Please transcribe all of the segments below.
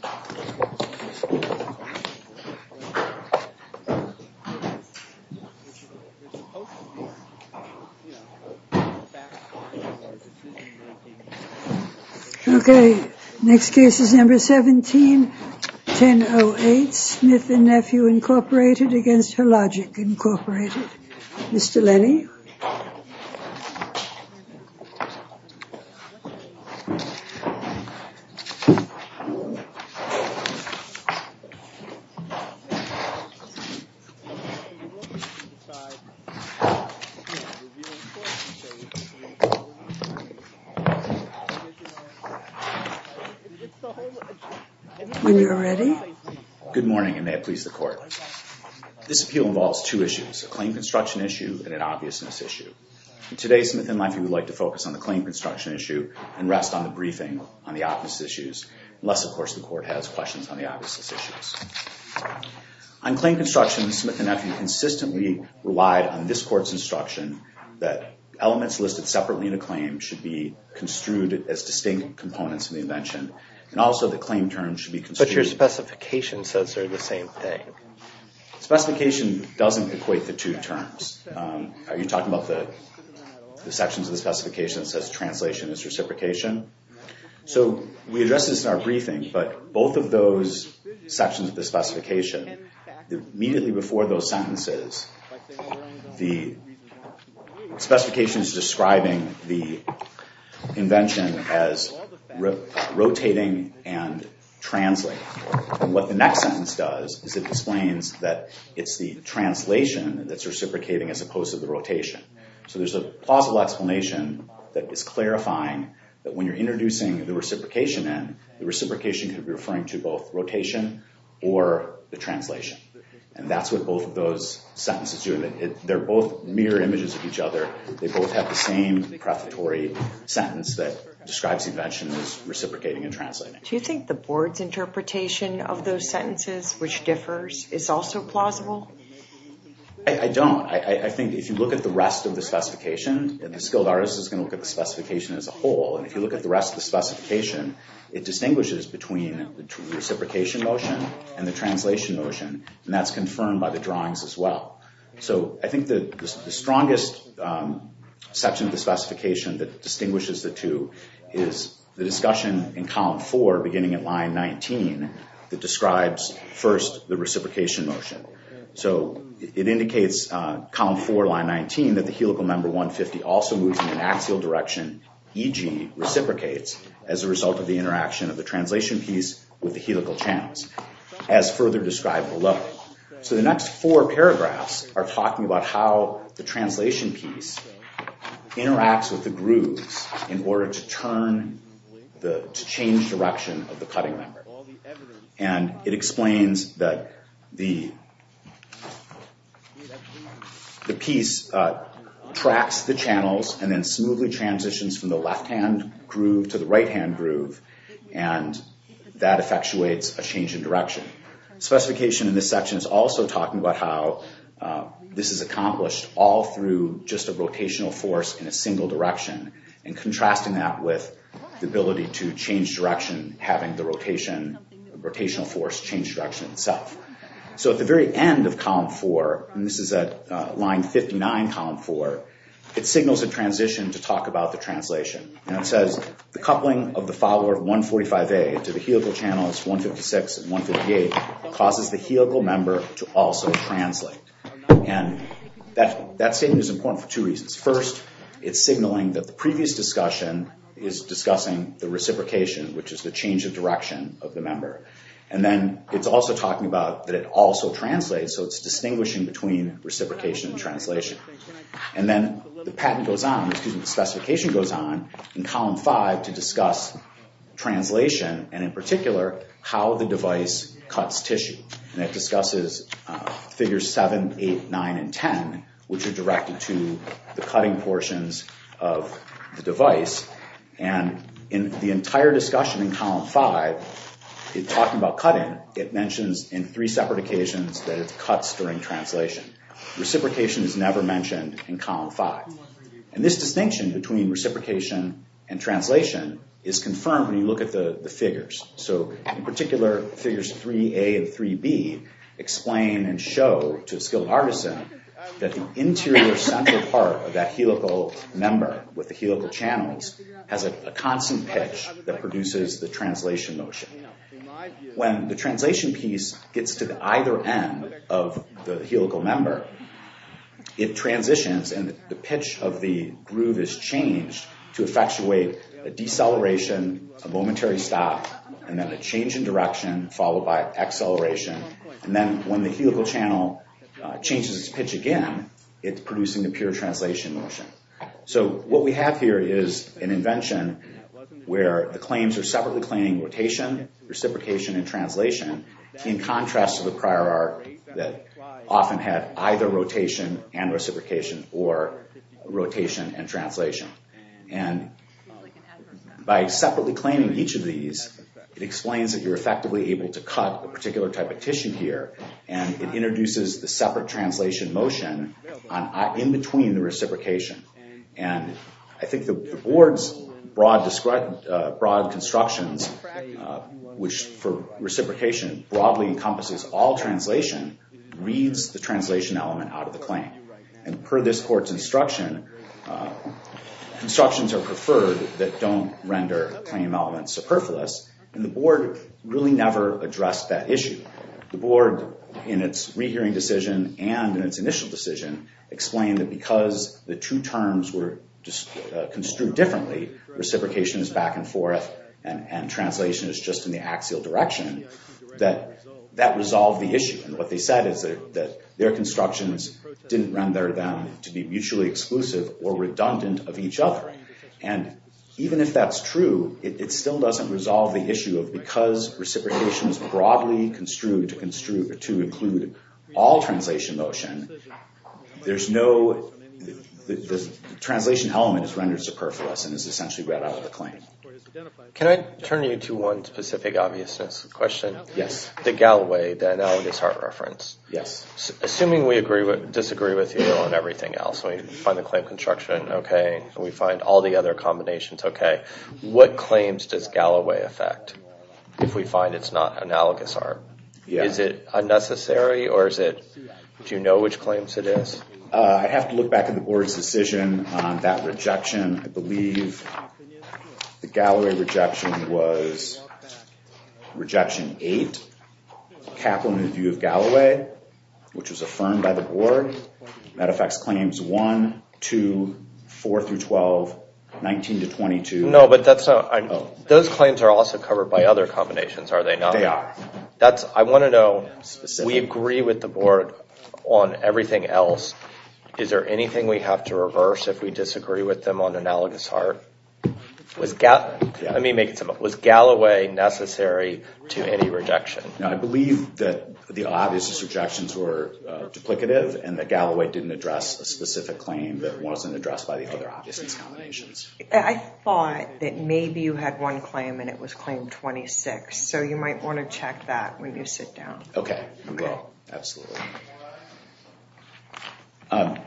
Mr. Lennie. Okay. Next case is number 17-10-08. Smith & Nephew, Inc. v. Hologic, Inc. Mr. Lennie. Mr. Lennie. When you're ready. Good morning, and may it please the Court. This appeal involves two issues. A claim construction issue and an obviousness issue. Today, Smith & Nephew would like to focus on the claim construction issue and rest on the briefing on the obviousness issues. Unless, of course, the Court has questions on the obviousness issues. On claim construction, Smith & Nephew consistently relied on this Court's instruction that elements listed separately in a claim should be construed as distinct components of the invention and also that claim terms should be construed... Specification doesn't equate the two terms. Are you talking about the sections of the specification that says translation is reciprocation? So we addressed this in our briefing, but both of those sections of the specification, immediately before those sentences, the specification is describing the invention as rotating and translating. What the next sentence does is it explains that it's the translation that's reciprocating as opposed to the rotation. So there's a plausible explanation that is clarifying that when you're introducing the reciprocation in, the reciprocation could be referring to both rotation or the translation. And that's what both of those sentences do. They're both mirror images of each other. They both have the same prefatory sentence that describes the invention as reciprocating and translating. Do you think the Board's interpretation of those sentences, which differs, is also plausible? I don't. I think if you look at the rest of the specification, the skilled artist is going to look at the specification as a whole. And if you look at the rest of the specification, it distinguishes between the reciprocation motion and the translation motion. And that's confirmed by the drawings as well. So I think the strongest section of the specification that distinguishes the two is the discussion in column four, beginning at line 19, that describes first the reciprocation motion. So it indicates, column four, line 19, that the helical member 150 also moves in an axial direction, e.g. reciprocates, as a result of the interaction of the translation piece with the helical channels, as further described below. So the next four paragraphs are talking about how the translation piece interacts with the grooves in order to change direction of the cutting member. And it explains that the piece tracks the channels and then smoothly transitions from the left-hand groove to the right-hand groove, and that effectuates a change in direction. Specification in this section is also talking about how this is accomplished all through just a rotational force in a single direction and contrasting that with the ability to change direction, having the rotational force change direction itself. So at the very end of column four, and this is at line 59, column four, it signals a transition to talk about the translation. And it says, the coupling of the follower 145A to the helical channels 156 and 158 causes the helical member to also translate. And that statement is important for two reasons. First, it's signaling that the previous discussion is discussing the reciprocation, which is the change of direction of the member. And then it's also talking about that it also translates, so it's distinguishing between reciprocation and translation. And then the patent goes on, excuse me, the specification goes on in column five to discuss translation, and in particular, how the device cuts tissue. And it discusses figures seven, eight, nine, and ten, which are directed to the cutting portions of the device. And in the entire discussion in column five, it's talking about cutting. It mentions in three separate occasions that it cuts during translation. Reciprocation is never mentioned in column five. And this distinction between reciprocation and translation is confirmed when you look at the figures. So in particular, figures 3A and 3B explain and show to a skilled artisan that the interior central part of that helical member with the helical channels has a constant pitch that produces the translation motion. When the translation piece gets to either end of the helical member, it transitions and the pitch of the groove is changed to effectuate a deceleration, a momentary stop, and then a change in direction followed by acceleration. And then when the helical channel changes its pitch again, it's producing the pure translation motion. So what we have here is an invention where the claims are separately claiming rotation, reciprocation, and translation in contrast to the prior art that often had either rotation and reciprocation or rotation and translation. And by separately claiming each of these, it explains that you're effectively able to cut a particular type of tissue here, and it introduces the separate translation motion in between the reciprocation. And I think the board's broad constructions, which for reciprocation broadly encompasses all translation, reads the translation element out of the claim. And per this court's instruction, constructions are preferred that don't render claim elements superfluous, and the board really never addressed that issue. The board in its rehearing decision and in its initial decision explained that because the two terms were construed differently, reciprocation is back and forth and translation is just in the axial direction, that that resolved the issue. And what they said is that their constructions didn't render them to be mutually exclusive or redundant of each other. And even if that's true, it still doesn't resolve the issue of because reciprocation is broadly construed to include all translation motion, the translation element is rendered superfluous and is essentially read out of the claim. Can I turn you to one specific obviousness question? Yes. The Galloway, the analogous heart reference. Assuming we disagree with you on everything else, we find the claim construction okay, and we find all the other combinations okay, what claims does Galloway affect if we find it's not analogous heart? Is it unnecessary or do you know which claims it is? I have to look back at the board's decision on that rejection. I believe the Galloway rejection was rejection 8, capital in the view of Galloway, which was affirmed by the board. That affects claims 1, 2, 4 through 12, 19 to 22. Those claims are also covered by other combinations, are they not? I want to know, we agree with the board on everything else. Is there anything we have to reverse if we disagree with them on analogous heart? Was Galloway necessary to any rejection? I believe that the obvious rejections were duplicative and that Galloway didn't address a specific claim that wasn't addressed by the other obvious combinations. I thought that maybe you had one claim and it was claim 26 so you might want to check that when you sit down. Okay, absolutely. I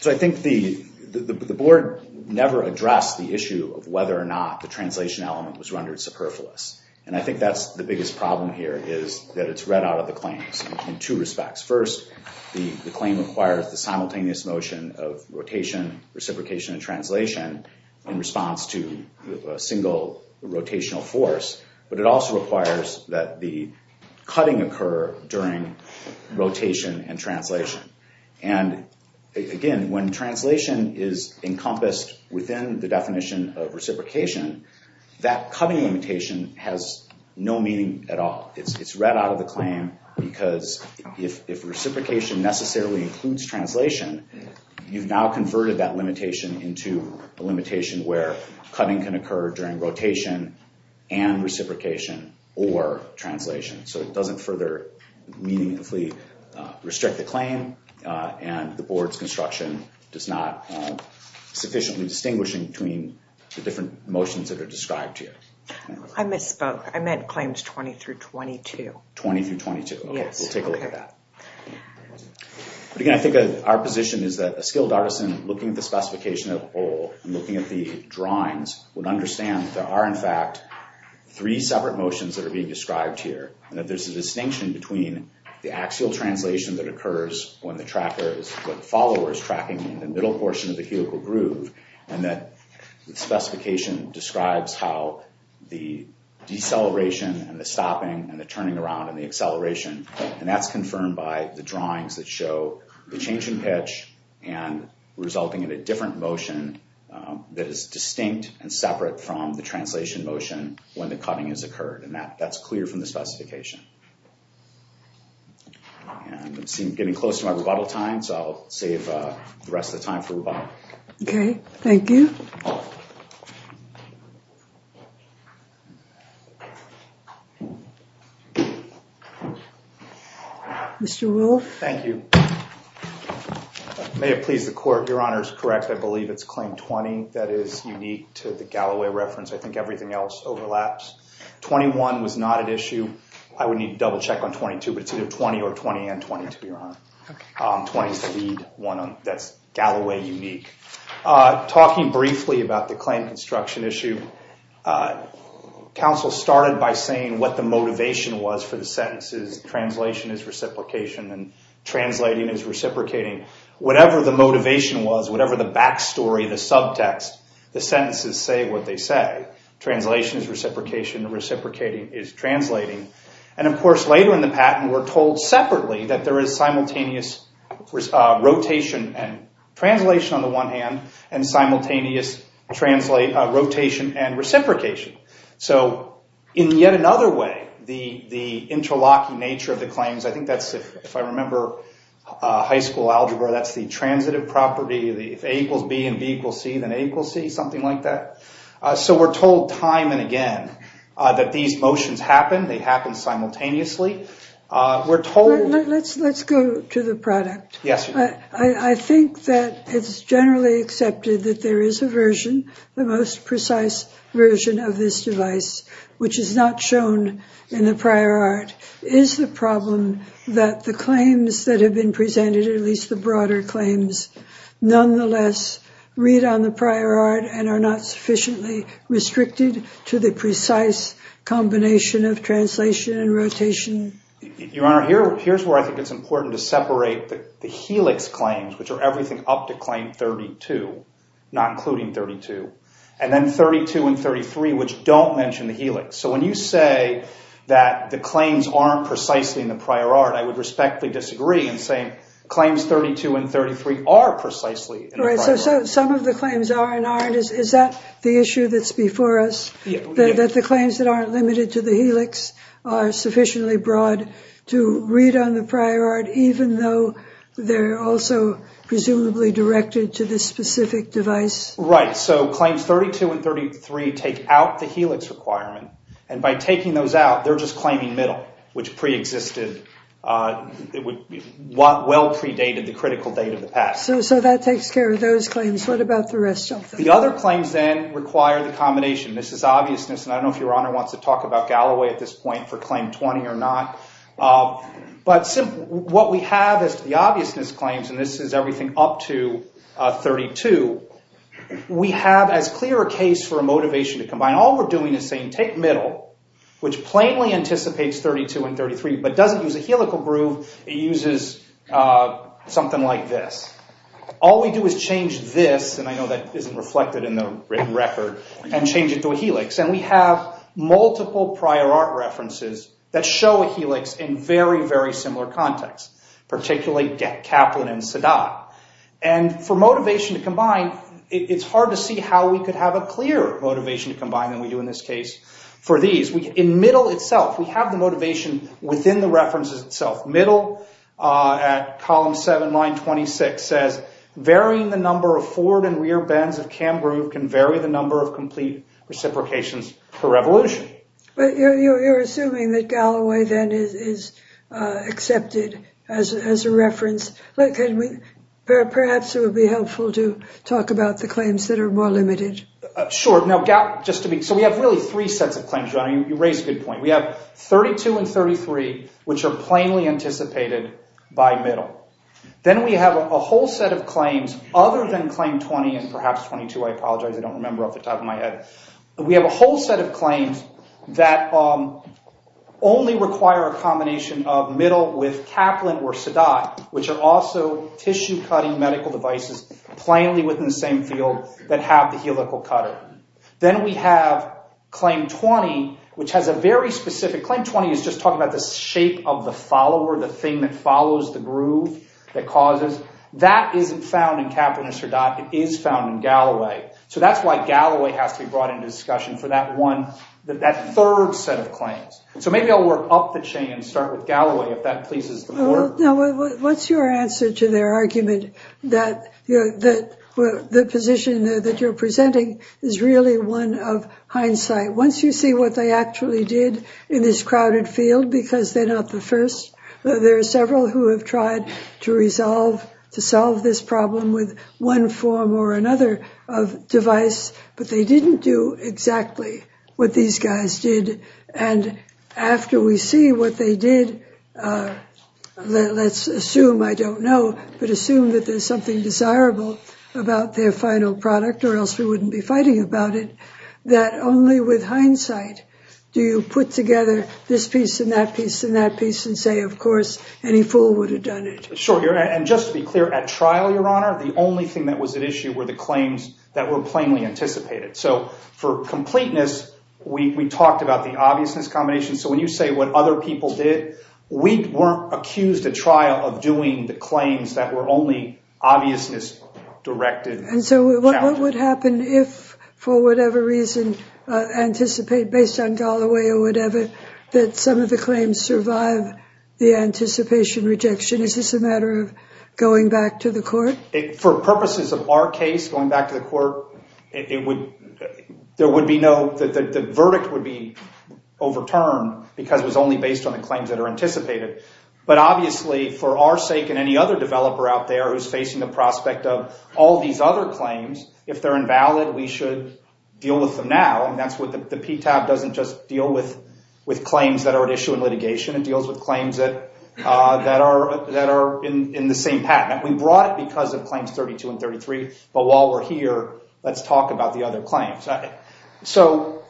think the board never addressed the issue of whether or not the translation element was rendered superfluous and I think that's the biggest problem here is that it's read out of the claims in two respects. First, the claim requires the simultaneous motion of rotation, reciprocation, and translation in response to a single rotational force but it also requires that the cutting occur during rotation and translation. Again, when translation is encompassed within the definition of reciprocation that cutting limitation has no meaning at all. It's read out of the claim because if reciprocation necessarily includes translation, you've now converted that limitation into a limitation where cutting can occur during rotation and reciprocation or translation so it doesn't further meaningfully restrict the claim and the board's construction does not sufficiently distinguish between the different motions that are described here. I misspoke. I meant claims 20-22. 20-22. Okay, we'll take a look at that. Again, I think our position is that a skilled artisan looking at the specification as a whole and looking at the drawings would understand that there are in fact three separate motions that are being described here and that there's a distinction between the axial translation that occurs when the follower is tracking in the middle portion of the helical groove and that the specification describes how the deceleration and the stopping and the turning around and the acceleration and that's confirmed by the drawings that show the change in pitch and resulting in a different motion that is distinct and separate from the translation motion when the cutting has occurred and that's clear from the specification. And I'm getting close to my rebuttal time so I'll save the rest of the time for rebuttal. Okay, thank you. Mr. Wolf. Thank you. May it please the court, your honor is correct I believe it's claim 20 that is unique to the Galloway reference I think everything else overlaps. 21 was not an issue. I would need to double check on 22 but it's either 20 or 20 and 20, your honor. 20 is the lead one that's Galloway unique. Talking briefly about the claim construction issue counsel started by saying what the motivation was for the sentences. Translation is reciprocation and translating is reciprocating. Whatever the motivation was, whatever the backstory the subtext, the sentences say what they say. Translation is reciprocation and reciprocating is translating. And of course later in the patent we're told separately that there is simultaneous rotation and translation on the one hand and simultaneous rotation and reciprocation. So in yet another way the interlocking nature of the claims I think that's if I remember high school algebra that's the transitive property A equals B and B equals C So we're told time and again that these motions happen, they happen simultaneously Let's go to the product I think that it's generally accepted that there is a version, the most precise version of this device which is not shown in the prior art Is the problem that the claims that have been presented at least the broader claims nonetheless read on the prior art and are not sufficiently restricted to the precise combination of translation and rotation? Your Honor, here's where I think it's important to separate the helix claims which are everything up to claim 32 not including 32 and then 32 and 33 which don't mention the helix So when you say that the claims aren't precisely in the prior art I would respectfully disagree in saying claims 32 and 33 are precisely in the prior art Is that the issue that's before us that the claims that aren't limited to the helix are sufficiently broad to read on the prior art even though they're also presumably directed to this specific device? Claims 32 and 33 take out the helix requirement and by taking those out they're just claiming middle which well predated the critical date of the past So that takes care of those claims What about the rest of them? The other claims then require the combination I don't know if Your Honor wants to talk about Galloway at this point for claim 20 or not What we have as to the obviousness claims and this is everything up to 32 we have as clear a case for a motivation to combine All we're doing is saying take middle which plainly anticipates 32 and 33 but doesn't use a helical groove it uses something like this All we do is change this and I know that isn't reflected in the written record and change it to a helix and we have multiple prior art references that show a helix in very similar contexts particularly Kaplan and Sadat and for motivation to combine it's hard to see how we could have a clearer motivation to combine In middle itself we have the motivation within the references itself middle at column 7, line 26 says varying the number of forward and rear bends of cam groove can vary the number of complete reciprocations per revolution You're assuming that Galloway is accepted as a reference Perhaps it would be helpful to talk about the claims that are more limited Sure So we have really 3 sets of claims We have 32 and 33 which are plainly anticipated by middle Then we have a whole set of claims other than claim 20 and perhaps 22 We have a whole set of claims that only require a combination of middle with Kaplan or Sadat which are also tissue cutting medical devices plainly within the same field that have the helical cutter Then we have claim 20 which is just talking about the shape of the follower the thing that follows the groove That isn't found in Kaplan or Sadat It is found in Galloway So that's why Galloway has to be brought into discussion for that third set of claims So maybe I'll work up the chain and start with Galloway What's your answer to their argument that the position that you're presenting is really one of hindsight Once you see what they actually did in this crowded field because they're not the first There are several who have tried to solve this problem with one form or another of device but they didn't do exactly what these guys did and after we see what they did let's assume I don't know but assume that there's something desirable about their final product or else we wouldn't be fighting about it that only with hindsight do you put together this piece and that piece and say, of course, any fool would have done it Just to be clear, at trial the only thing that was at issue were the claims that were plainly anticipated For completeness, we talked about the obviousness combination so when you say what other people did we weren't accused at trial of doing the claims that were only obviousness directed So what would happen if for whatever reason, based on Galloway that some of the claims survive the anticipation rejection Is this a matter of going back to the court? For purposes of our case the verdict would be overturned because it was only based on the claims that are anticipated but obviously, for our sake and any other developer out there who's facing the prospect of all these other claims if they're invalid, we should deal with them now The PTAB doesn't just deal with claims that are at issue in litigation it deals with claims that are in the same patent We brought it because of claims 32 and 33 but while we're here, let's talk about the other claims So,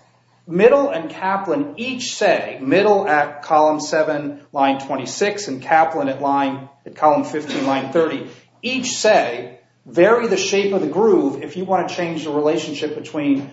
Middle and Kaplan each say, Middle at column 7, line 26 and Kaplan at column 15, line 30 each say, vary the shape of the groove if you want to change the relationship between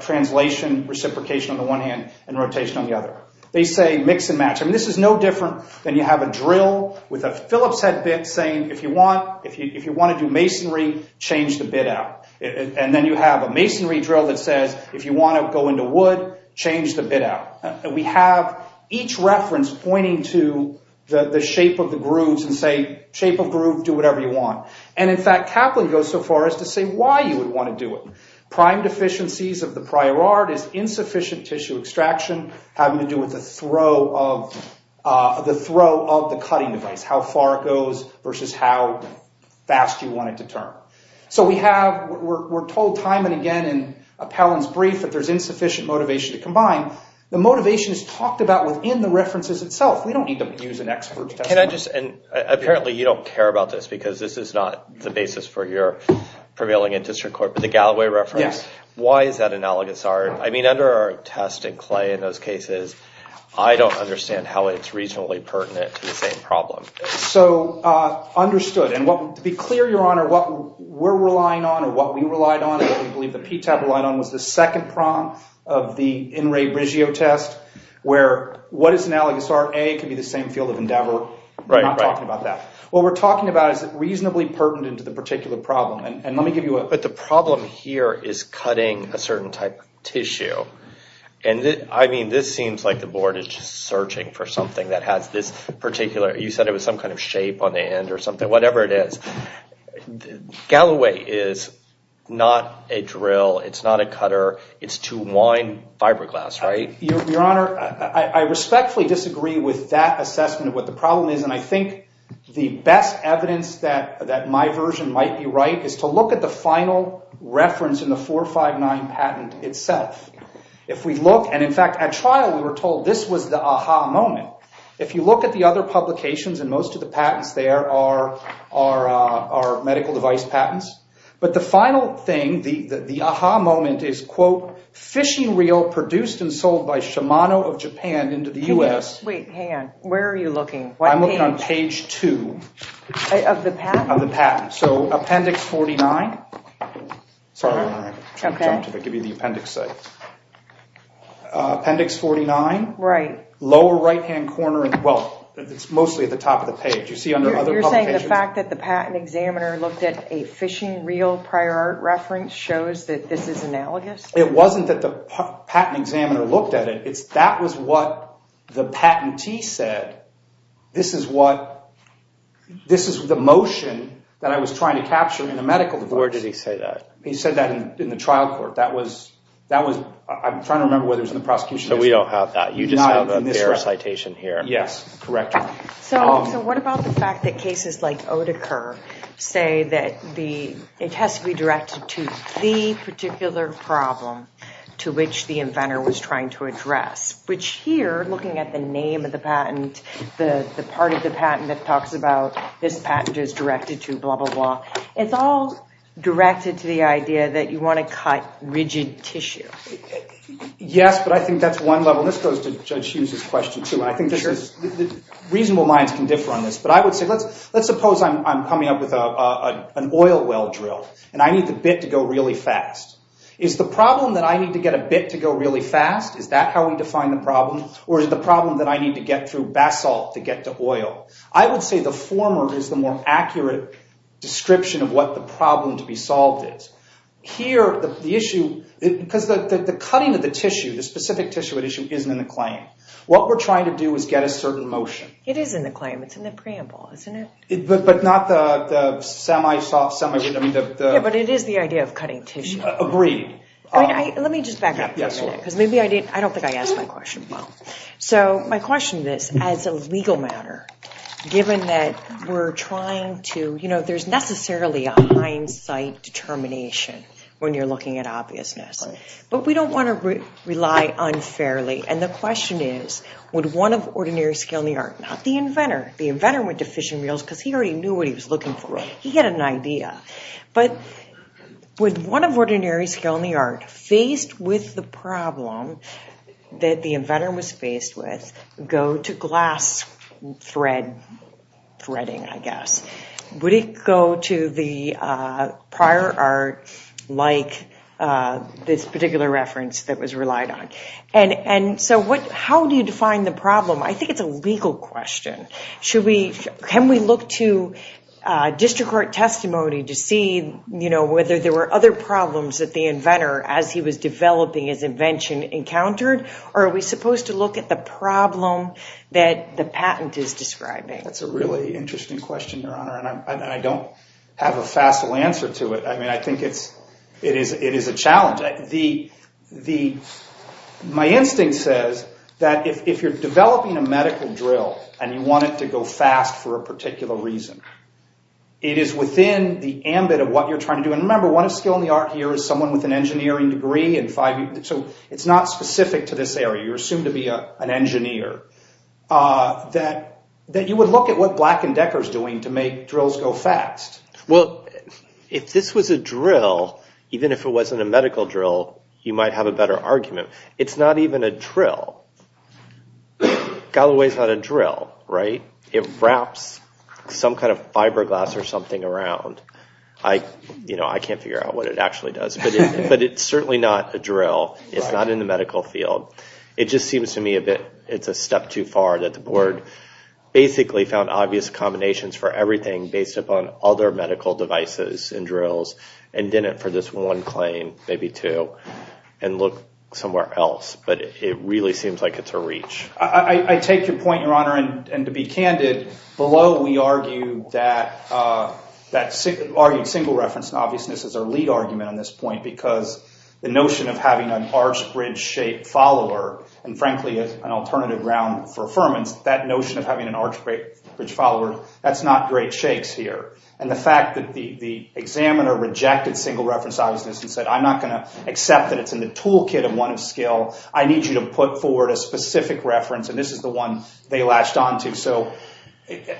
translation, reciprocation on the one hand and rotation on the other. They say mix and match This is no different than you have a drill with a Phillips head bit saying if you want to do masonry, change the bit out and then you have a masonry drill that says if you want to go into wood, change the bit out We have each reference pointing to the shape of the grooves and say, shape of groove, do whatever you want and in fact, Kaplan goes so far as to say why you would want to do it. Prime deficiencies of the prior art is insufficient tissue extraction having to do with the throw of the cutting device how far it goes versus how fast you want it to turn. So we're told time and again in Appellant's brief that there's insufficient motivation to combine. The motivation is talked about within the references itself. We don't need to use an expert's testimony And apparently you don't care about this because this is not the basis for your prevailing in district court but the Galloway reference. Why is that analogous? I mean, under our test in Clay in those cases I don't understand how it's regionally pertinent to the same problem So, understood. To be clear, Your Honor what we're relying on or what we relied on what we believe the PTAB relied on was the second prong of the In Re Brigio test where what is analogous? A could be the same field of endeavor We're not talking about that. What we're talking about is it reasonably pertinent to the particular problem. But the problem here is cutting a certain type of tissue I mean, this seems like the board is just searching for something that has this particular, you said it was some kind of shape on the end or something, whatever it is Galloway is not a drill It's not a cutter. It's to wind fiberglass Your Honor, I respectfully disagree with that assessment of what the problem is and I think the best evidence that my version might be right is to look at the final reference in the 459 patent itself. If we look And in fact, at trial we were told this was the aha moment If you look at the other publications and most of the patents there are medical device patents But the final thing, the aha moment is, quote, fishing reel produced and sold by Shimano of Japan into the US Wait, hang on. Where are you looking? I'm looking on page 2 Of the patent? Of the patent So, appendix 49 Sorry, Your Honor, I jumped a bit Appendix 49 Lower right hand corner Well, it's mostly at the top of the page You're saying the fact that the patent examiner looked at a fishing reel prior art reference shows that this is analogous? It wasn't that the patent examiner looked at it That was what the patentee said This is what Where did he say that? He said that in the trial court So we don't have that. You just have their citation here Yes, correct So what about the fact that cases like Oedeker say that it has to be directed to the particular problem to which the inventor was trying to address Which here, looking at the name of the patent the part of the patent that talks about This patent is directed to blah blah blah It's all directed to the idea that you want to cut rigid tissue Yes, but I think that's one level Reasonable minds can differ on this Let's suppose I'm coming up with an oil well drill And I need the bit to go really fast Is the problem that I need to get a bit to go really fast Is that how we define the problem? Or is the problem that I need to get through basalt to get to oil I would say the former is the more accurate description of what the problem to be solved is Here, the issue Because the cutting of the tissue, the specific tissue at issue isn't in the claim What we're trying to do is get a certain motion It is in the claim. It's in the preamble, isn't it? But not the semi-soft, semi-rigid But it is the idea of cutting tissue Let me just back up I don't think I asked my question well My question is, as a legal matter Given that we're trying to There's necessarily a hindsight determination When you're looking at obviousness But we don't want to rely unfairly And the question is, would one of ordinary skill in the art Not the inventor. The inventor went to fish and meals Because he already knew what he was looking for But would one of ordinary skill in the art Faced with the problem That the inventor was faced with Go to glass threading Would it go to the prior art Like this particular reference That was relied on How do you define the problem? I think it's a legal question Can we look to district court testimony To see whether there were other problems That the inventor, as he was developing his invention Encountered? Or are we supposed to look at the problem That the patent is describing? That's a really interesting question, Your Honor And I don't have a facile answer to it I think it is a challenge My instinct says That if you're developing a medical drill And you want it to go fast for a particular reason It is within the ambit of what you're trying to do And remember, one of skill in the art here Is someone with an engineering degree So it's not specific to this area You're assumed to be an engineer That you would look at what Black and Decker is doing To make drills go fast Well, if this was a drill Even if it wasn't a medical drill You might have a better argument It's not even a drill It wraps some kind of fiberglass Or something around I can't figure out what it actually does But it's certainly not a drill It's not in the medical field It's a step too far That the board found obvious combinations Based upon other medical devices And did it for this one claim And looked somewhere else But it really seems like it's a reach I take your point, Your Honor And to be candid, below we argue That single reference and obviousness Is our lead argument on this point Because the notion of having an arch bridge shape follower And frankly as an alternative ground for affirmance That notion of having an arch bridge follower That's not great shakes here And the fact that the examiner rejected single reference obviousness And said, I'm not going to accept that it's in the toolkit I need you to put forward a specific reference And this is the one they latched on to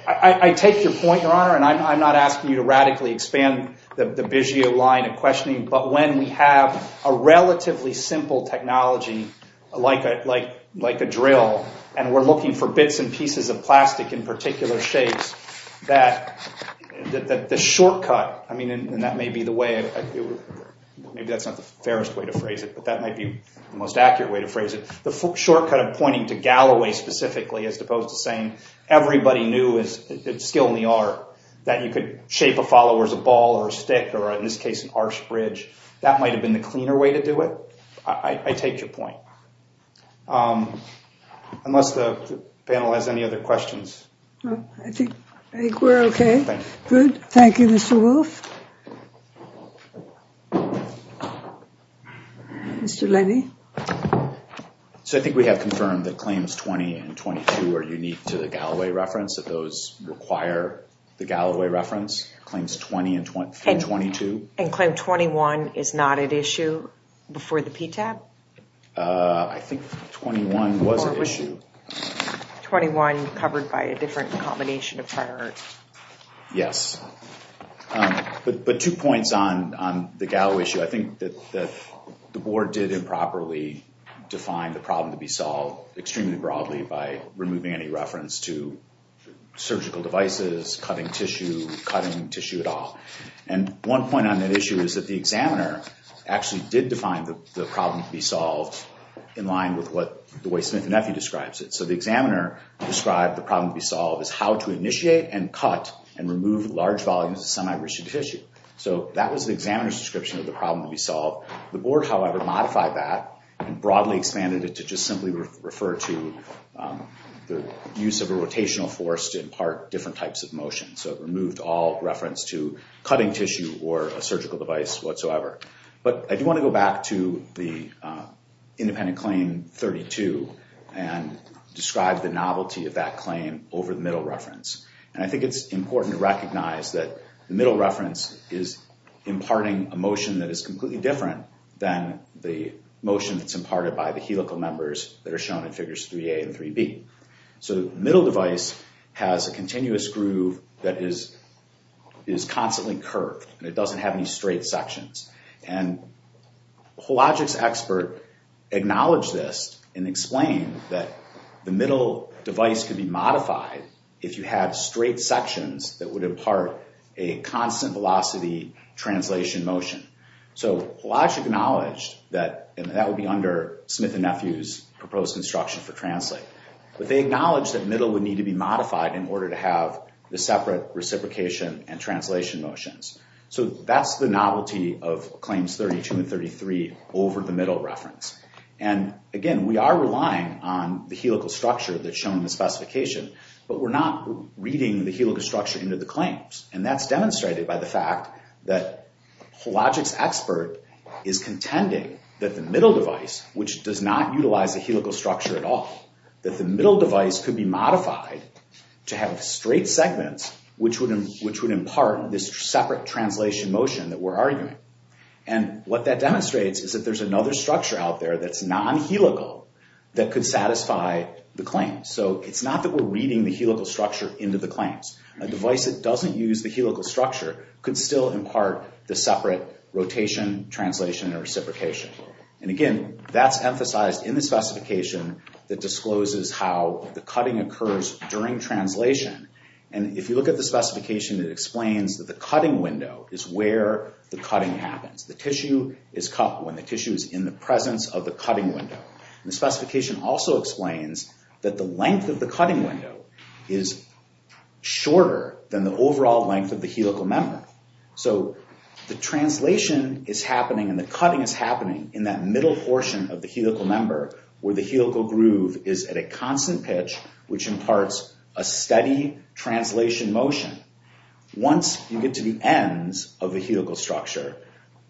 I take your point, Your Honor And I'm not asking you to radically expand the Bigeo line of questioning But when we have a relatively simple technology Like a drill And we're looking for bits and pieces of plastic In particular shapes The shortcut And that may be the way As opposed to saying Everybody knew it's skill in the art That you could shape a follower as a ball or a stick Or in this case an arch bridge That might have been the cleaner way to do it I take your point Unless the panel has any other questions I think we're okay Thank you, Mr. Wolf Mr. Levy So I think we have confirmed That claims 20 and 22 are unique to the Galloway reference That those require the Galloway reference Claims 20 and 22 And claim 21 is not at issue Before the PTAB I think 21 was at issue 21 covered by a different combination of prior art Yes But two points on the Galloway issue I think that the board did improperly Define the problem to be solved Extremely broadly by removing any reference To surgical devices, cutting tissue Cutting tissue at all And one point on that issue Is that the examiner actually did define The problem to be solved In line with the way Smith and Nephew describes it So the examiner described the problem to be solved As how to initiate and cut And remove large volumes of semi-rich tissue So that was the examiner's description Of the problem to be solved The board, however, modified that And broadly expanded it To just simply refer to The use of a rotational force To impart different types of motion So it removed all reference to cutting tissue Or a surgical device whatsoever But I do want to go back to the independent claim 32 And describe the novelty of that claim Over the middle reference And I think it's important to recognize That the middle reference is imparting A motion that is completely different Than the motion that's imparted by the helical members That are shown in Figures 3a and 3b So the middle device has a continuous groove That is constantly curved And it doesn't have any straight sections And the Hologix expert acknowledged this And explained that the middle device Could be modified if you had straight sections That would impart a constant velocity translation motion So Hologix acknowledged That that would be under Smith and Nephew's Proposed instruction for translate But they acknowledged that middle would need to be modified In order to have the separate reciprocation and translation motions So that's the novelty of claims 32 and 33 Over the middle reference And again, we are relying on the helical structure That's shown in the specification But we're not reading the helical structure into the claims And that's demonstrated by the fact That Hologix expert is contending That the middle device, which does not utilize the helical structure at all That the middle device could be modified To have straight segments Which would impart this separate translation motion And what that demonstrates Is that there's another structure out there That's non-helical that could satisfy the claims So it's not that we're reading the helical structure into the claims A device that doesn't use the helical structure Could still impart the separate rotation, translation, and reciprocation And again, that's emphasized in the specification That discloses how the cutting occurs during translation And if you look at the specification It explains that the cutting window Is where the cutting happens The tissue is in the presence of the cutting window The specification also explains That the length of the cutting window Is shorter than the overall length of the helical member So the translation is happening And the cutting is happening In that middle portion of the helical member Where the helical groove is at a constant pitch Which imparts a steady translation motion Once you get to the ends of the helical structure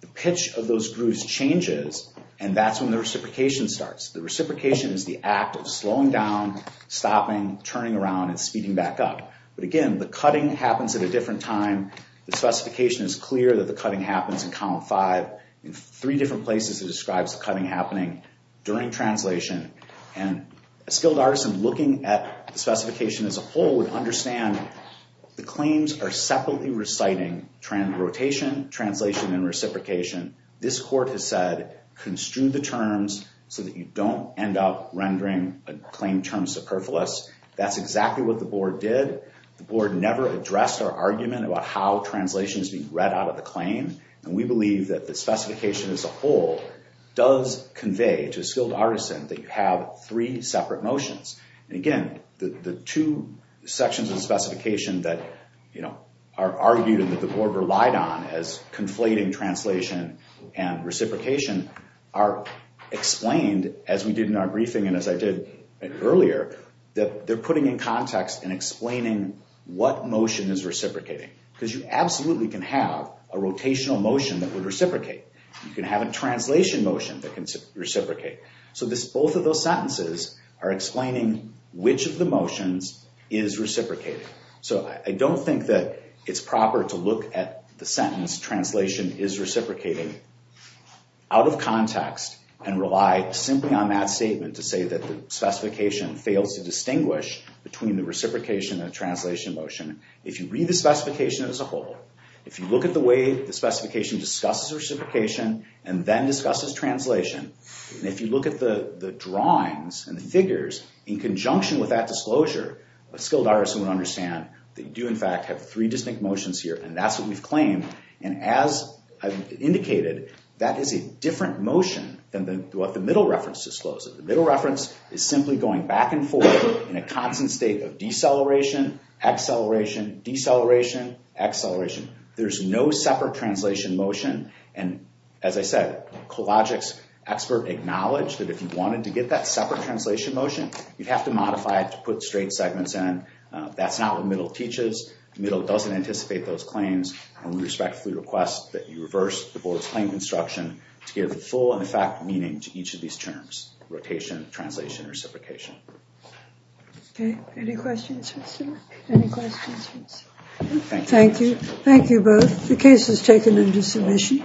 The pitch of those grooves changes And that's when the reciprocation starts The reciprocation is the act of slowing down Stopping, turning around, and speeding back up But again, the cutting happens at a different time The specification is clear that the cutting happens in column 5 In three different places it describes the cutting happening During translation And a skilled artisan looking at the specification as a whole Would understand the claims are separately reciting Rotation, translation, and reciprocation This court has said, construe the terms So that you don't end up rendering a claim term superfluous That's exactly what the board did The board never addressed our argument About how translation is being read out of the claim And we believe that the specification as a whole Does convey to a skilled artisan That you have three separate motions And again, the two sections of the specification That are argued and that the board relied on As conflating translation and reciprocation Are explained, as we did in our briefing And as I did earlier They're putting in context and explaining What motion is reciprocating Because you absolutely can have a rotational motion that would reciprocate You can have a translation motion that can reciprocate So both of those sentences are explaining Which of the motions is reciprocating So I don't think that it's proper to look at The sentence, translation is reciprocating Out of context and rely simply on that statement To say that the specification fails to distinguish Between the reciprocation and the translation motion If you read the specification as a whole If you look at the way the specification discusses reciprocation And then discusses translation And if you look at the drawings and the figures In conjunction with that disclosure A skilled artisan would understand that you do in fact Have three distinct motions here and that's what we've claimed And as I've indicated That is a different motion than what the middle reference discloses The middle reference is simply going back and forth In a constant state of deceleration, acceleration Deceleration, acceleration There's no separate translation motion And as I said, Kolodzik's expert acknowledged That if you wanted to get that separate translation motion You'd have to modify it to put straight segments in That's not what middle teaches Middle doesn't anticipate those claims And we respectfully request that you reverse the board's claim construction To give full and in fact meaning to each of these terms Rotation, translation, reciprocation Any questions? Thank you, thank you both The case is taken into submission